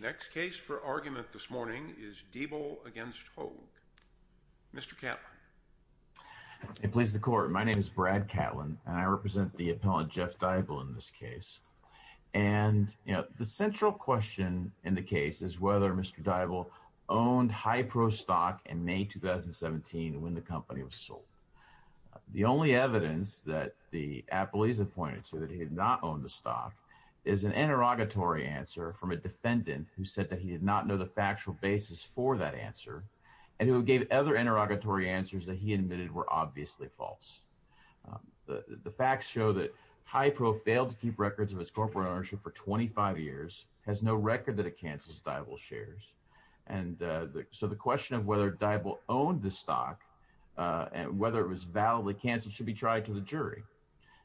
Next case for argument this morning is Deibel v. Hoeg. Mr. Catlin. It pleases the court. My name is Brad Catlin and I represent the appellant Jeff Deibel in this case. And, you know, the central question in the case is whether Mr. Deibel owned Hypro stock in May 2017 when the company was sold. The only evidence that the appellees have pointed to that he had not owned the stock is an interrogatory answer from a defendant who said that he did not know the factual basis for that answer and who gave other interrogatory answers that he admitted were obviously false. The facts show that Hypro failed to keep records of its corporate ownership for 25 years, has no record that it cancels Deibel shares. And so the question of whether Deibel owned the stock and whether it was validly canceled should be tried to the jury.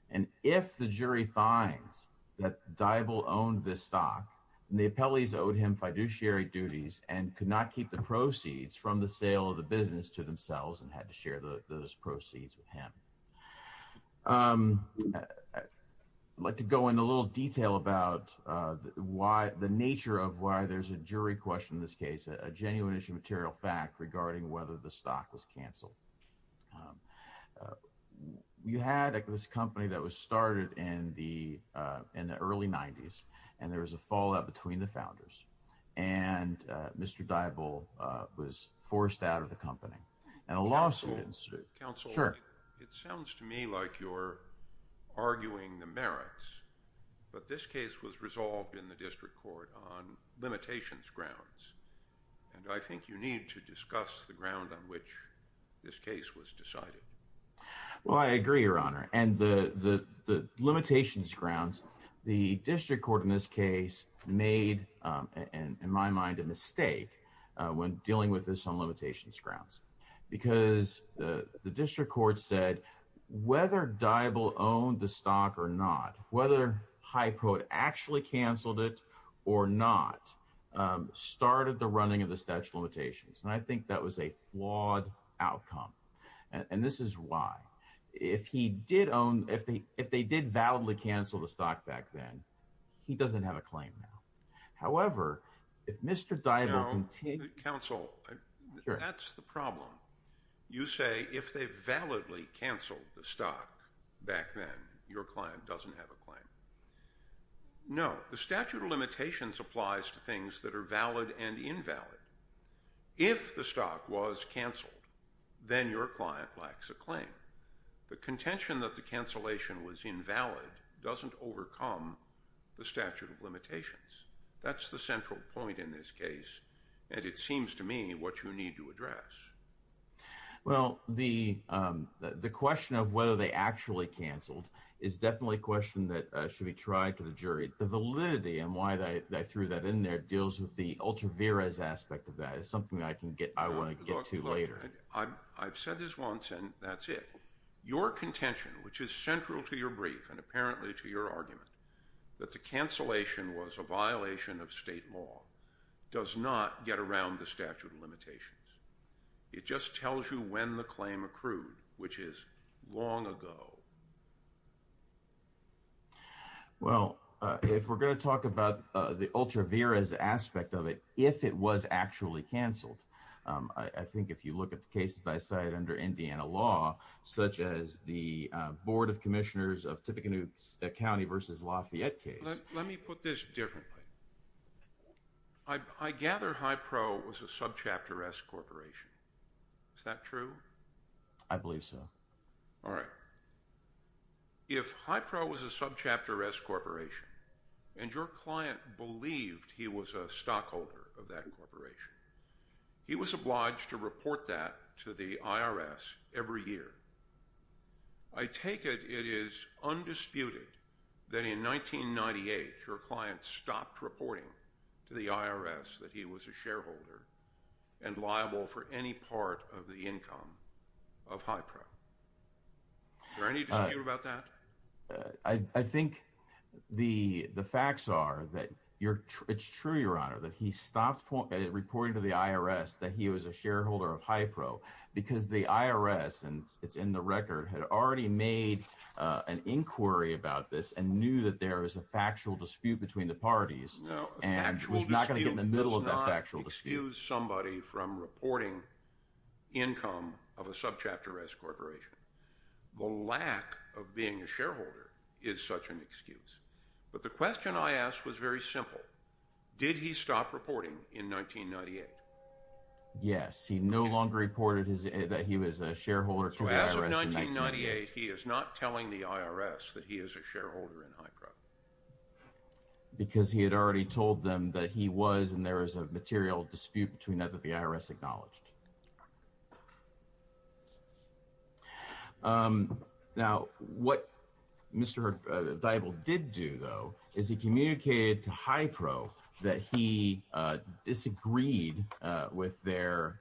And if the jury finds that Deibel owned this stock, the appellees owed him fiduciary duties and could not keep the proceeds from the sale of the business to themselves and had to share those proceeds with him. I'd like to go into a little detail about why the nature of why there's a jury question in this case, a genuine issue material fact regarding whether the stock was canceled. You had this company that was started in the in the early 90s and there was a fallout between the founders and Mr. Deibel was forced out of the company and a lawsuit. Counsel, it sounds to me like you're arguing the merits, but this case was resolved in the this case was decided. Well, I agree, Your Honor. And the the the limitations grounds, the district court in this case made, in my mind, a mistake when dealing with this on limitations grounds, because the district court said whether Deibel owned the stock or not, whether Hypro actually canceled it or not, started the running of the statute of limitations. And I think that was a flawed outcome. And this is why if he did own if they if they did validly cancel the stock back then, he doesn't have a claim. However, if Mr. Deibel. Counsel, that's the problem. You say if they validly canceled the stock back then, your client doesn't have a claim. No, the statute of limitations applies to things that are valid and invalid. If the stock was canceled, then your client lacks a claim. The contention that the cancellation was invalid doesn't overcome the statute of limitations. That's the central point in this case. And it seems to me what you need to address. Well, the the question of whether they actually canceled is definitely a question that should be tried to the jury. The validity and why they threw that in there deals with the ultra-veras aspect of that. It's something I can get I want to get to later. I've said this once and that's it. Your contention, which is central to your brief and apparently to your argument, that the cancellation was a violation of state law, does not get around the statute of limitations. It just tells you when the claim accrued, which is long ago. Well, if we're going to talk about the ultra-veras aspect of it, if it was actually canceled, I think if you look at the cases I cited under Indiana law, such as the board of commissioners of Tippecanoe County versus Lafayette case. Let me put this differently. I gather High Pro was a subchapter S corporation. Is that true? I believe so. All right. If High Pro was a subchapter S corporation and your client believed he was a stockholder of that corporation, he was obliged to report that to the IRS every year. I take it it is undisputed that in 1998 your client stopped reporting to the IRS that he was a shareholder and liable for any part of the income of High Pro. Is there any dispute about that? I think the facts are that it's true, your honor, that he stopped reporting to the IRS that he was a shareholder of High Pro because the IRS, and it's in the record, had already made an inquiry about this and knew that there was a factual dispute between the parties and was not going to get in the middle of that factual dispute. A factual dispute does not excuse somebody from reporting income of a subchapter S corporation. The lack of being a shareholder is such an excuse. But the he no longer reported that he was a shareholder. So as of 1998, he is not telling the IRS that he is a shareholder in High Pro. Because he had already told them that he was and there was a material dispute between that that the IRS acknowledged. Now, what Mr. Dybul did do, though, is he communicated to High Pro that he disagreed with their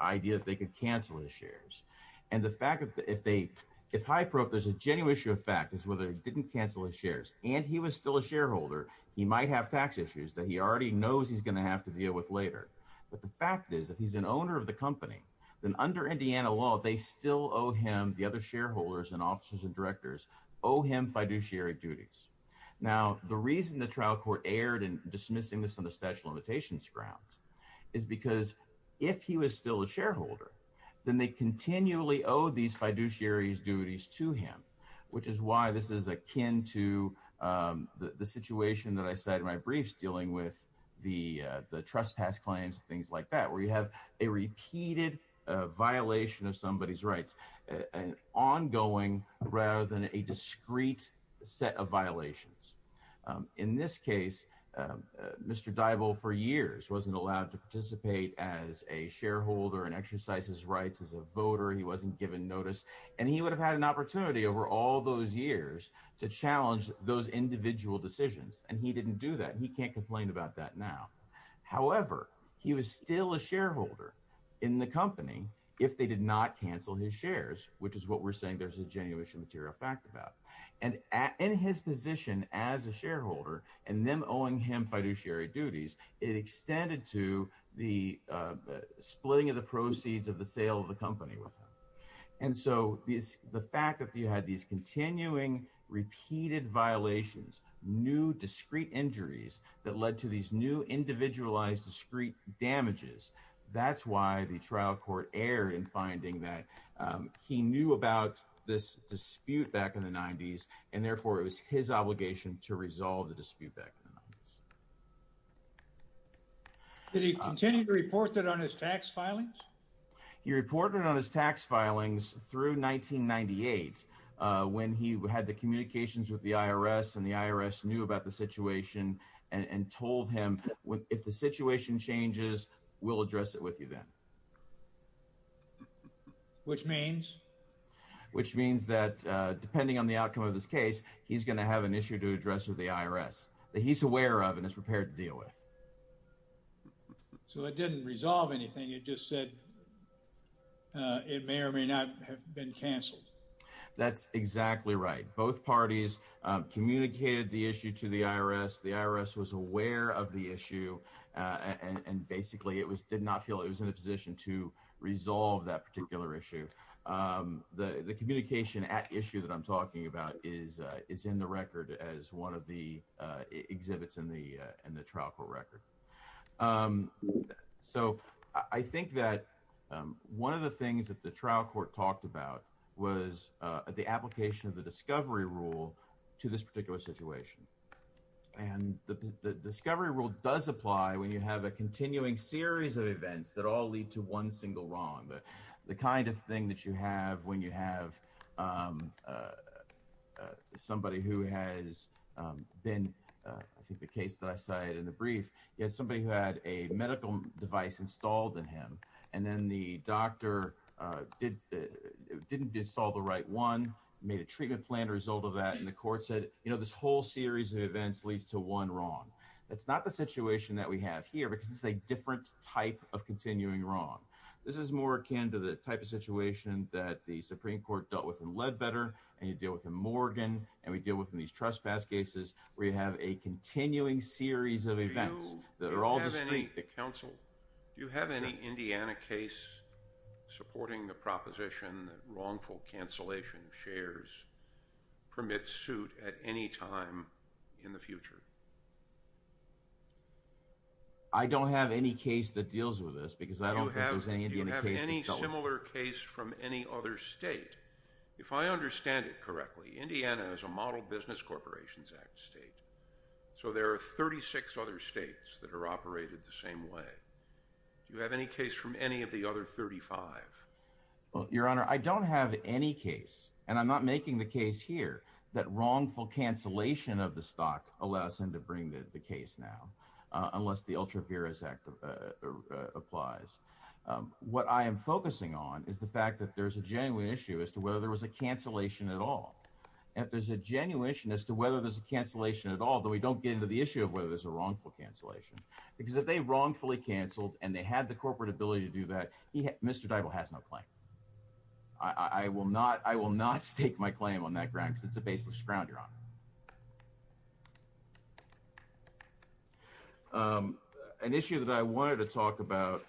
idea that they could cancel his shares. And the fact that if they, if High Pro, if there's a genuine issue of fact is whether he didn't cancel his shares, and he was still a shareholder, he might have tax issues that he already knows he's going to have to deal with later. But the fact is that he's an owner of the company, then under Indiana law, they still owe him the other shareholders and officers and directors owe him fiduciary duties. Now, the reason the trial court erred in dismissing this on the statute of limitations grounds is because if he was still a shareholder, then they continually owe these fiduciary duties to him, which is why this is akin to the situation that I said in my briefs dealing with the the trespass claims, things like that, where you have a repeated violation of somebody's rights, and ongoing rather than a discrete set of violations. In this case, Mr. Dybul for years wasn't allowed to participate as a shareholder and exercise his rights as a voter, he wasn't given notice. And he would have had an opportunity over all those years to challenge those individual decisions. And he didn't do that. He can't complain about that now. However, he was still a shareholder in the company, if they did not cancel his shares, which is what we're saying there's a genuine material fact about. And in his position as a shareholder, and then owing him fiduciary duties, it extended to the splitting of the proceeds of the sale of the company with him. And so these the fact that you had these continuing repeated violations, new discrete injuries that led to these new individualized discrete damages. That's why the trial court erred in finding that he knew about this dispute back in the 90s. And therefore it was his obligation to resolve the dispute back. Did he continue to report that on his tax filings? He reported on his tax filings through 1998. When he had the communications with the IRS, and the IRS knew about the situation, and told him, if the situation changes, we'll address it with you then. Which means? Which means that depending on the outcome of this case, he's going to have an issue to address with the IRS that he's aware of and is prepared to deal with. So it didn't resolve anything. It just said it may or may not have been canceled. That's exactly right. Both parties communicated the issue to the IRS. The IRS was aware of the issue. And basically it was did not feel it was in a position to resolve that particular issue. The communication at issue that I'm talking about is is in the record as one of the exhibits in the trial court record. So I think that one of the things that the trial court talked about was the application of the discovery rule to this particular situation. And the discovery rule does apply when you have a continuing series of events that all lead to one single wrong. The kind of thing that you have when you have somebody who has been, I think the case that I cited in the brief, somebody who had a medical device installed in him, and then the doctor didn't install the right one, made a treatment plan as a result of that, and the court said, you know, this whole series of events leads to one wrong. That's not the situation that we have here because it's a type of continuing wrong. This is more akin to the type of situation that the Supreme Court dealt with in Ledbetter, and you deal with in Morgan, and we deal with in these trespass cases where you have a continuing series of events that are all distinct. Do you have any Indiana case supporting the proposition that wrongful cancellation of shares permits suit at any time in the future? I don't have any case that deals with this, because I don't think there's any Indiana case. Do you have any similar case from any other state? If I understand it correctly, Indiana is a Model Business Corporations Act state, so there are 36 other states that are operated the same way. Do you have any case from any of the other 35? Well, Your Honor, I don't have any case, and I'm not making the case here that wrongful cancellation of the stock allows them to bring the case now, unless the UltraViris Act applies. What I am focusing on is the fact that there's a genuine issue as to whether there was a cancellation at all. If there's a genuine issue as to whether there's a cancellation at all, though we don't get into the issue of whether there's a wrongful cancellation, because if they wrongfully canceled and they had the corporate ability to do that, Mr. Deibel has no claim. I will not stake my claim on that ground, because it's a baseless ground, Your Honor. An issue that I wanted to talk about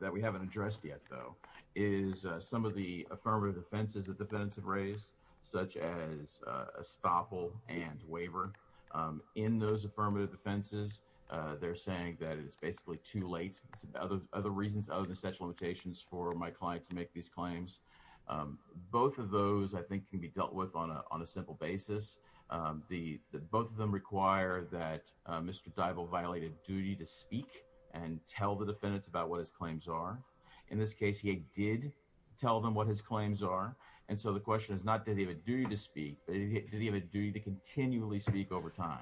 that we haven't addressed yet, though, is some of the affirmative offenses that defendants have raised, such as estoppel and waiver. In those affirmative offenses, they're saying that it's basically too late. Other reasons, other than statute of limitations for my client to make these claims. Both of those, I think, can be dealt with on a simple basis. Both of them require that Mr. Deibel violate a duty to speak and tell the defendants about what his claims are. In this case, he did tell them what his claims are, and so the question is not, did he have a duty to speak, but did he have a duty to continually speak over time?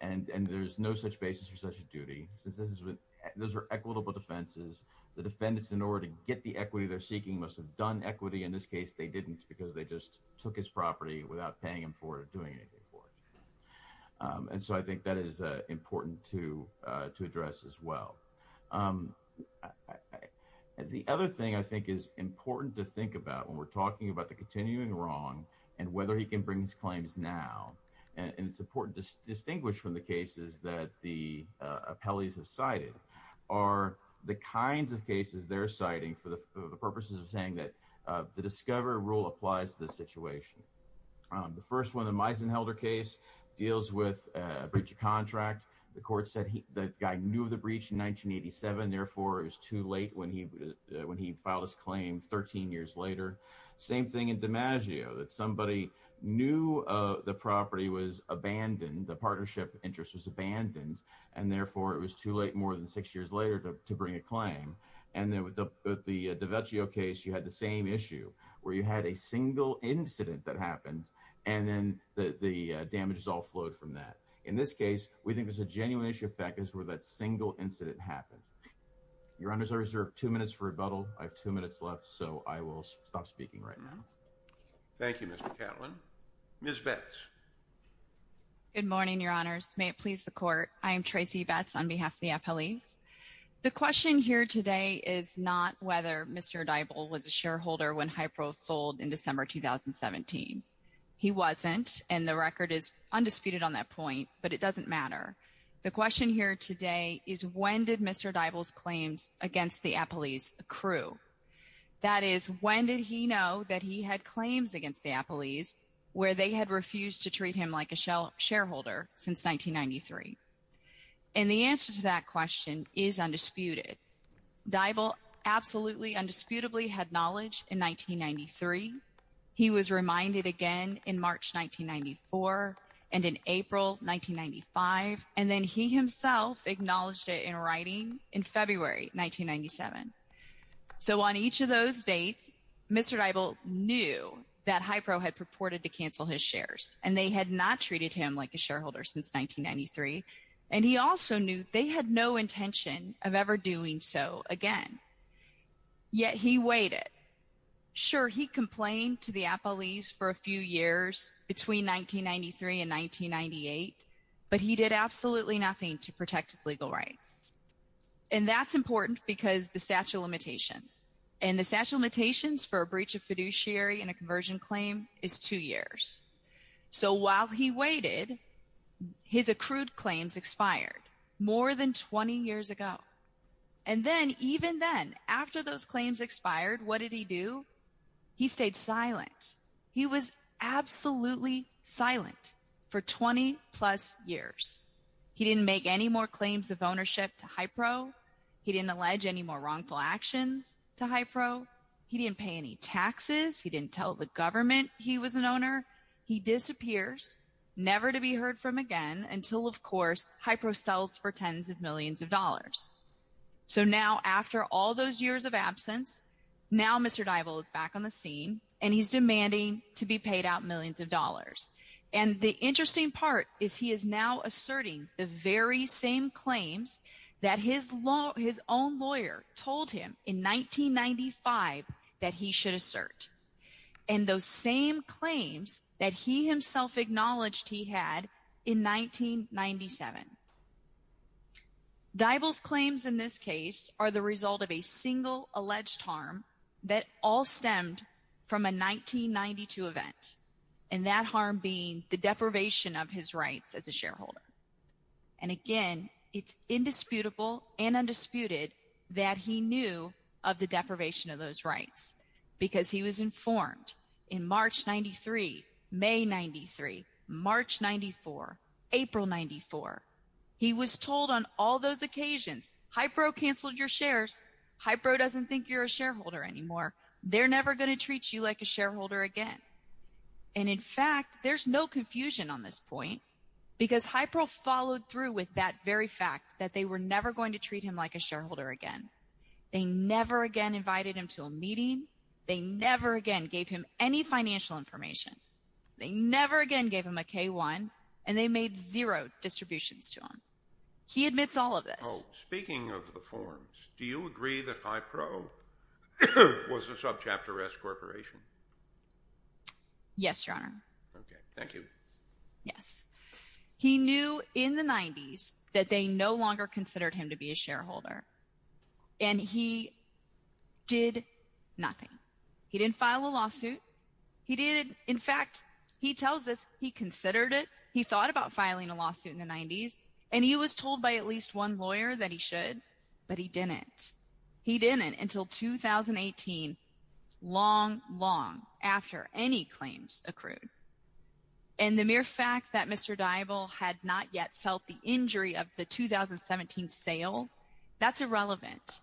And there's no such basis for such a duty. Since those are equitable defenses, the defendants, in order to get the equity they're seeking, must have done equity. In this case, they didn't, because they just took his property without paying him for it or doing anything for it. And so I think that is important to address as well. The other thing I think is important to think about when we're talking about the continuing wrong and whether he can bring his claims now, and it's important to distinguish from the cases that the appellees have cited, are the kinds of cases they're citing for the purposes of saying that the DISCOVER rule applies to this situation. The first one, the Meisenhelder case, deals with a breach of contract. The court said the guy knew of the breach in 1987, therefore it was too late when he filed his claim 13 years later. Same thing in DiMaggio, that somebody knew the property was abandoned, the partnership interest was abandoned, and therefore it was too late more than six years later to bring a claim. And then with the DiMaggio case, you had the same issue, where you had a single incident that happened, and then the damages all flowed from that. In this case, we think there's a genuine issue of factors where that single incident happened. Your honors, I reserve two minutes for rebuttal. I have two minutes left, so I will stop speaking right now. Thank you, Mr. Catlin. Ms. Betz. Good morning, your honors. May it please the court, I am Tracy Betz on behalf of the appellees. The question here today is not whether Mr. Dybul was a shareholder when Hypro sold in December 2017. He wasn't, and the record is undisputed on that point, but it doesn't matter. The question here today is when did Mr. Dybul's claims against the appellees accrue? That is, when did he know that he had claims against the appellees where they had refused to treat him like a shareholder since 1993? And the answer to that question is undisputed. Dybul absolutely, indisputably had knowledge in 1993. He was reminded again in March 1994 and in April 1995, and then he himself acknowledged it in writing in February 1997. So on each of those dates, Mr. Dybul knew that Hypro had purported to cancel his shares, and they had not treated him like a shareholder since 1993. And he also knew they had no intention of ever doing so again. Yet he waited. Sure, he complained to the appellees for a few years between 1993 and 1998, but he did absolutely nothing to protect his legal rights. And that's important because the statute of limitations, and the statute of limitations for a breach of fiduciary and a conversion claim is two years. So while he waited, his accrued claims expired more than 20 years ago. And then, even then, after those claims expired, what did he do? He stayed silent. He was absolutely silent for 20 plus years. He didn't make any more claims of ownership to Hypro. He didn't allege any more wrongful actions to Hypro. He didn't pay any taxes. He didn't tell the government he was an owner. He disappears, never to be heard from again until, of course, Hypro sells for tens of millions of dollars. So now, after all those years of absence, now Mr. Dybul is back on the scene, and he's demanding to be paid out millions of dollars. And the interesting part is he is now asserting the very same claims that his own lawyer told him in 1995 that he should assert. And those same claims that he himself acknowledged he had in 1997. Dybul's claims in this case are the result of a single alleged harm that all stemmed from a 1992 event, and that harm being the deprivation of his rights as a shareholder. And again, it's indisputable and undisputed that he knew of the deprivation of those rights because he was informed in March 93, May 93, March 94, April 94. He was told on all those occasions, Hypro canceled your shares. Hypro doesn't think you're a shareholder anymore. They're never going to treat you like a shareholder again. And in fact, there's no confusion on this point because Hypro followed through with that very fact that they were never going to treat him like a shareholder again. They never again invited him to a meeting. They never again gave him any financial information. They never again gave him a K1 and they made zero distributions to him. He admits all of this. Speaking of the forms, do you agree that Hypro was a subchapter S corporation? Yes, your honor. Okay, thank you. Yes. He knew in the 90s that they no longer considered him to be a shareholder. And he did nothing. He didn't file a lawsuit. He didn't. In fact, he tells us he considered it. He thought about filing a lawsuit in the 90s and he was told by at least one lawyer that he should, but he didn't. He didn't until 2018, long, long after any claims accrued. And the mere fact that that's irrelevant.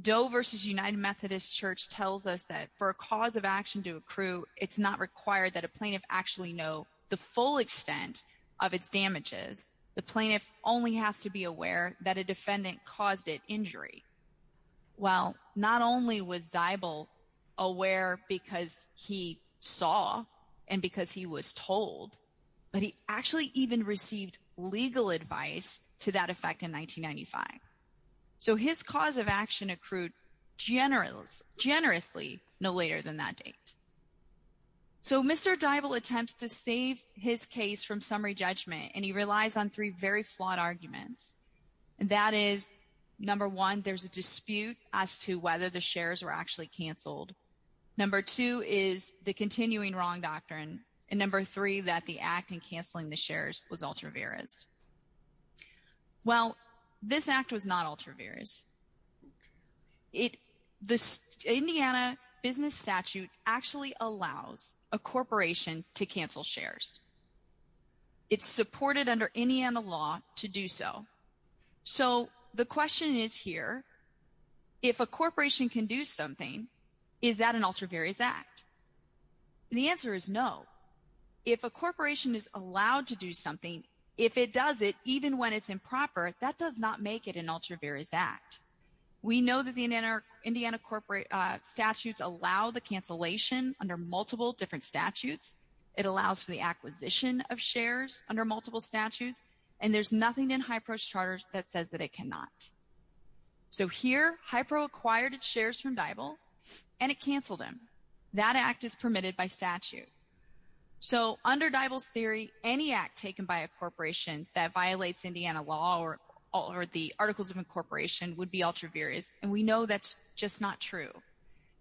Doe versus United Methodist Church tells us that for a cause of action to accrue, it's not required that a plaintiff actually know the full extent of its damages. The plaintiff only has to be aware that a defendant caused it injury. Well, not only was Dibal aware because he saw and because he was told, but he actually even received legal advice to that effect in 1995. So his cause of action accrued generous generously no later than that date. So Mr. Dibal attempts to save his case from summary judgment, and he relies on three very flawed arguments. And that is number one, there's a dispute as to whether the shares were actually canceled. Number two is the continuing wrong doctrine. And number three, that the act and canceling the shares was ultra various. Well, this act was not ultra various. It this Indiana business statute actually allows a corporation to cancel shares. It's supported under Indiana law to do so. So the question is here, if a corporation can do something, is that an ultra various act? The answer is no. If a corporation is allowed to do something, if it does it, even when it's improper, that does not make it an ultra various act. We know that the Indiana corporate statutes allow the cancellation under multiple different statutes. It allows for the acquisition of shares under multiple statutes. And there's nothing in HIPRO's charter that says that it cannot. So here, HIPRO acquired its shares from Dibal, and it canceled him. That act is permitted by statute. So under Dibal's theory, any act taken by a corporation that violates Indiana law or the Articles of Incorporation would be ultra various. And we know that's just not true.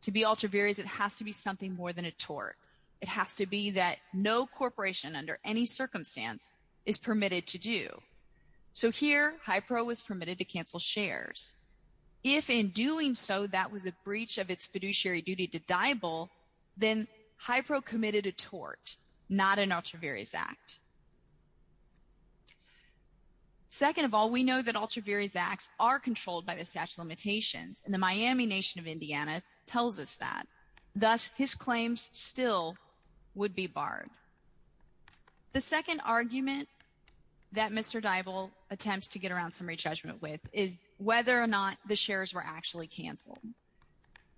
To be ultra various, it has to be something more than a tort. It has to be that no corporation under any circumstance is permitted to do. So here, HIPRO was permitted to cancel shares. If in doing so, that was a breach of its fiduciary duty to Dibal, then HIPRO committed a tort, not an ultra various act. Second of all, we know that ultra various acts are controlled by the statute of limitations, and the Miami nation of Indiana tells us that. Thus, his claims still would be barred. The second argument that Mr. Dibal attempts to get around summary judgment with is whether or not the shares were actually canceled.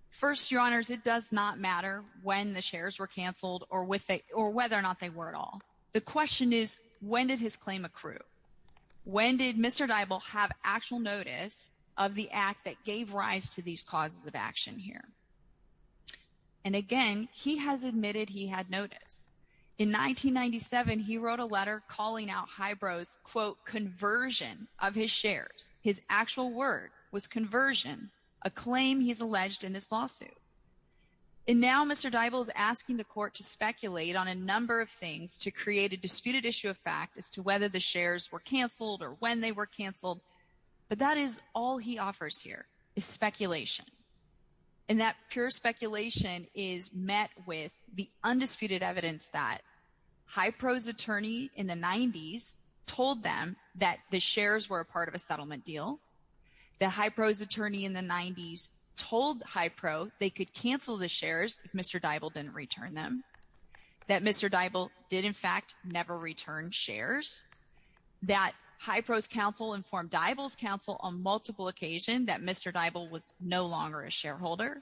First, your honors, it does not matter when the shares were canceled or whether or not they were at all. The question is, when did his claim accrue? When did Mr. Dibal have actual notice of the act that gave rise to these causes of action here? And again, he has admitted he had notice. In 1997, he wrote a letter calling out HIPRO's quote, conversion of his shares. His actual word was conversion, a claim he's alleged in this lawsuit. And now Mr. Dibal is asking the court to speculate on a number of things to create a disputed issue of fact as to whether the shares were canceled or when they were canceled. But that is all he offers here is speculation. And that pure speculation is met with the undisputed evidence that HIPRO's attorney in the 90s told them that the shares were a part of a settlement deal. The HIPRO's attorney in the 90s told HIPRO they could cancel the shares if Mr. Dibal didn't return them. That Mr. Dibal did in fact never return shares. That HIPRO's counsel informed Dibal's counsel on multiple occasion that Mr. Dibal was no longer a shareholder.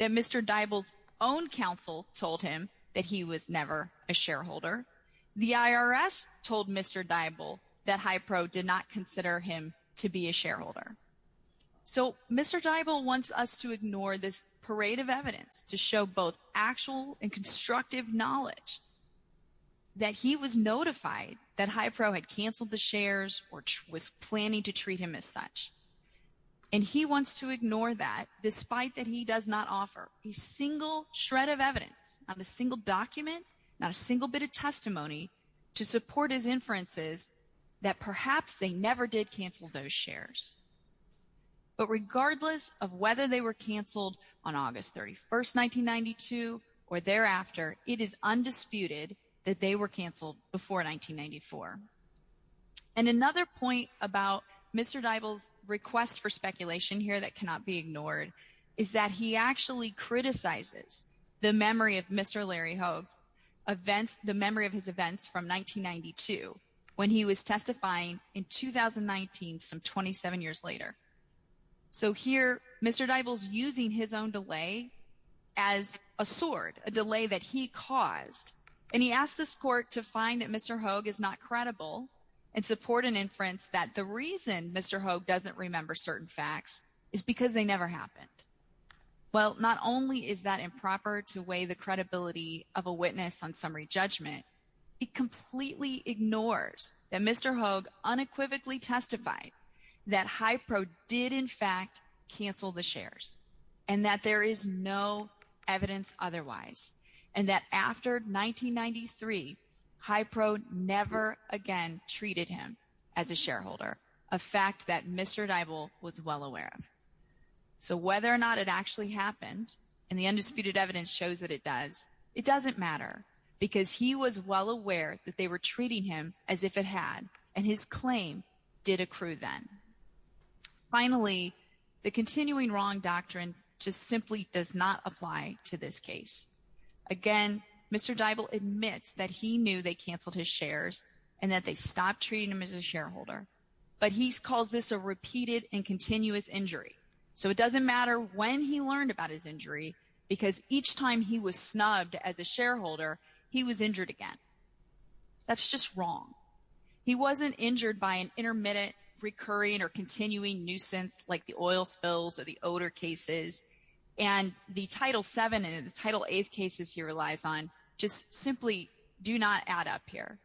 That Mr. Dibal's own counsel told him that he was never a shareholder. The IRS told Mr. Dibal that HIPRO did not consider him to be a shareholder. So Mr. Dibal wants us to ignore this parade of evidence to show both actual and constructive knowledge that he was notified that HIPRO had canceled the shares or was planning to treat him as such. And he wants to ignore that despite that he does not offer a single shred of evidence, not a single document, not a single bit of testimony to support his inferences that perhaps they never did cancel those shares. But regardless of whether they were canceled on August 31st, or thereafter, it is undisputed that they were canceled before 1994. And another point about Mr. Dibal's request for speculation here that cannot be ignored is that he actually criticizes the memory of Mr. Larry Hogue's events, the memory of his events from 1992 when he was testifying in 2019 some 27 years later. So here Mr. Dibal's using his own delay as a sword, a delay that he caused. And he asked this court to find that Mr. Hogue is not credible and support an inference that the reason Mr. Hogue doesn't remember certain facts is because they never happened. Well, not only is that improper to weigh the credibility of a witness on summary judgment, it completely ignores that Mr. Hogue unequivocally testified that HIPRO did in fact cancel the shares, and that there is no evidence otherwise, and that after 1993, HIPRO never again treated him as a shareholder, a fact that Mr. Dibal was well aware of. So whether or not it actually happened, and the undisputed evidence shows that it does, it doesn't matter because he was well aware that they were treating him as if it had, and his claim did accrue then. Finally, the continuing wrong doctrine just simply does not apply to this case. Again, Mr. Dibal admits that he knew they canceled his shares and that they stopped treating him as a shareholder, but he calls this a repeated and continuous injury. So it doesn't matter when he learned about his injury because each time he was snubbed as a shareholder, he was injured again. That's just wrong. He wasn't injured by an intermittent recurring or continuing nuisance like the oil spills or the odor cases, and the Title VII and the Title VIII cases he relies on just simply do not add up here.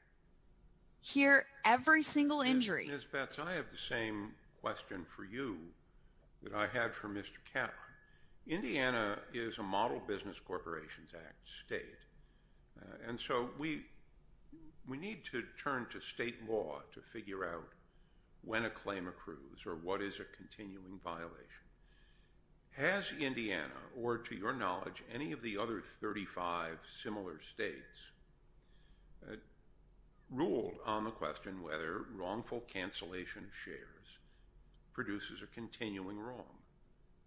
Here, every single injury- Ms. Betz, I have the same question for you that I had for Mr. Capra. Indiana is a Model Business Corporations Act state, and so we need to turn to state law to figure out when a claim accrues or what is a continuing violation. Has Indiana, or to your knowledge, any of the other 35 similar states, ruled on the question whether wrongful cancellation of shares produces a continuing wrong?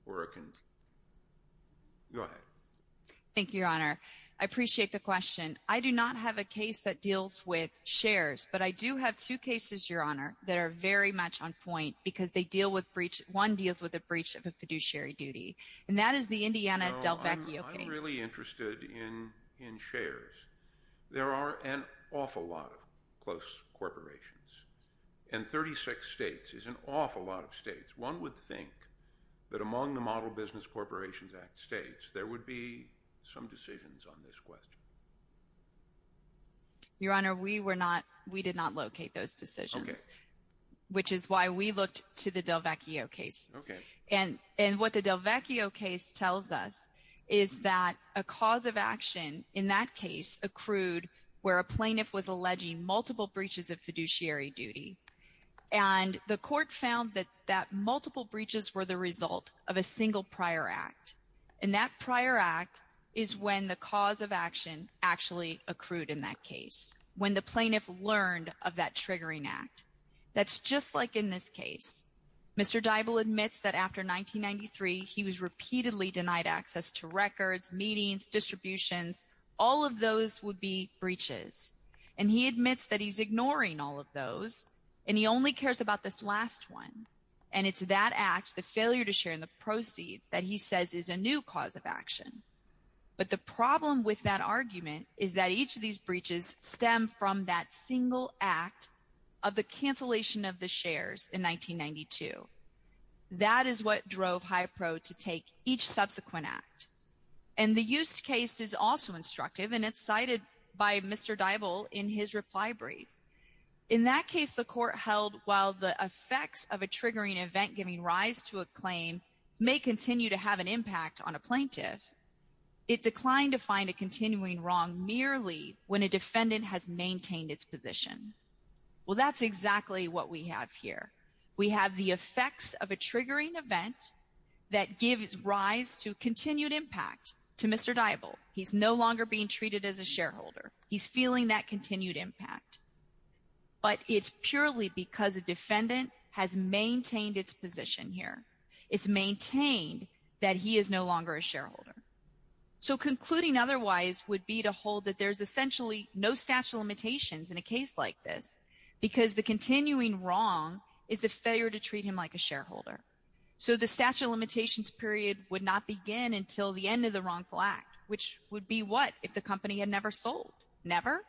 Go ahead. Thank you, Your Honor. I appreciate the question. I do not have a case that deals with shares, but I do have two cases, Your Honor, that are very much on point because they deal with breach. One deals with a breach of a fiduciary duty, and that is the Indiana Del Vecchio case. No, I'm not really interested in shares. There are an awful lot of close corporations, and 36 states is an awful lot of states. One would think that among the Model Business Corporations Act states, there would be some decisions on this question. Your Honor, we did not locate those decisions, which is why we looked to the Del where a plaintiff was alleging multiple breaches of fiduciary duty, and the court found that multiple breaches were the result of a single prior act, and that prior act is when the cause of action actually accrued in that case, when the plaintiff learned of that triggering act. That's just like in this case. Mr. Dybul admits that after 1993, he was repeatedly denied access to records, meetings, distributions. All of those would be breaches, and he admits that he's ignoring all of those, and he only cares about this last one, and it's that act, the failure to share in the proceeds, that he says is a new cause of action, but the problem with that argument is that each of these breaches stem from that single act of the subsequent act, and the used case is also instructive, and it's cited by Mr. Dybul in his reply brief. In that case, the court held while the effects of a triggering event giving rise to a claim may continue to have an impact on a plaintiff, it declined to find a continuing wrong merely when a defendant has maintained its position. Well, that's exactly what we have here. We have the effects of a triggering event that gives rise to continued impact to Mr. Dybul. He's no longer being treated as a shareholder. He's feeling that continued impact, but it's purely because a defendant has maintained its position here. It's maintained that he is no longer a shareholder, so concluding otherwise would be to hold that there's essentially no statute of limitations in a case like this because the continuing wrong is the failure to treat him like a shareholder, so the statute of limitations period would not begin until the end of the wrongful act, which would be what if the company had never sold? Never.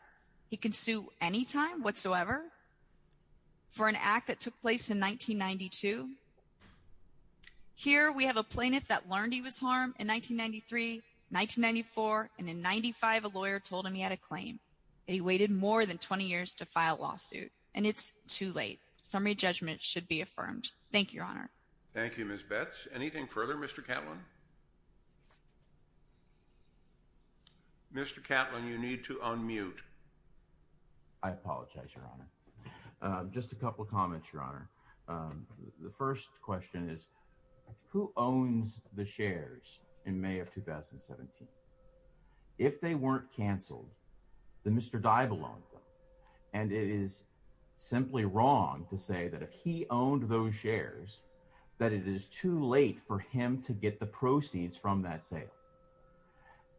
He can sue any time whatsoever for an act that took place in 1992. Here, we have a plaintiff that learned he was harmed in 1993, 1994, and in 95, a lawyer told him he had a claim. He waited more than 20 years to file a lawsuit, and it's too late. Summary judgment should be affirmed. Thank you, Your Honor. Thank you, Ms. Betz. Anything further, Mr. Catlin? Mr. Catlin, you need to unmute. I apologize, Your Honor. Just a couple of comments, Your Honor. The first question is, who owns the shares in May of 2017? If they weren't canceled, then Mr. Dybel owned them, and it is simply wrong to say that if he owned those shares, that it is too late for him to get the proceeds from that sale.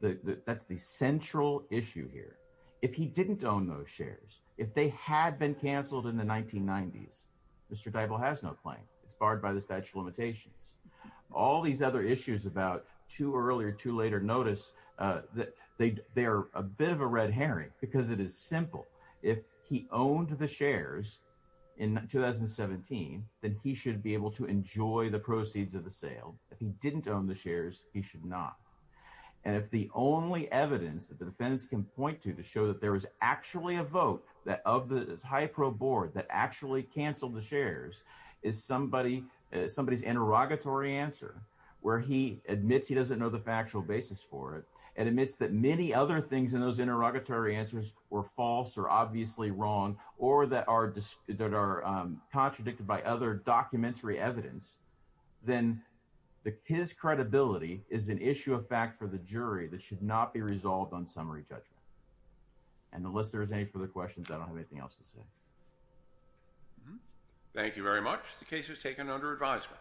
That's the central issue here. If he didn't own those shares, if they had been canceled in the 1990s, Mr. Dybel has no claim. It's barred by the statute of limitations. All these other issues about too early or too late or notice, they're a bit of a red herring because it is simple. If he owned the shares in 2017, then he should be able to enjoy the proceeds of the sale. If he didn't own the shares, he should not. If the only evidence that the defendants can point to to show that there was actually a vote of the HIPRO board that actually canceled the shares is somebody's interrogatory answer, where he admits he doesn't know the factual basis for it and admits that many other things in those interrogatory answers were false or obviously wrong or that are contradicted by documentary evidence, then his credibility is an issue of fact for the jury that should not be resolved on summary judgment. Unless there are any further questions, I don't have anything else to say. Thank you very much. The case is taken under advisement.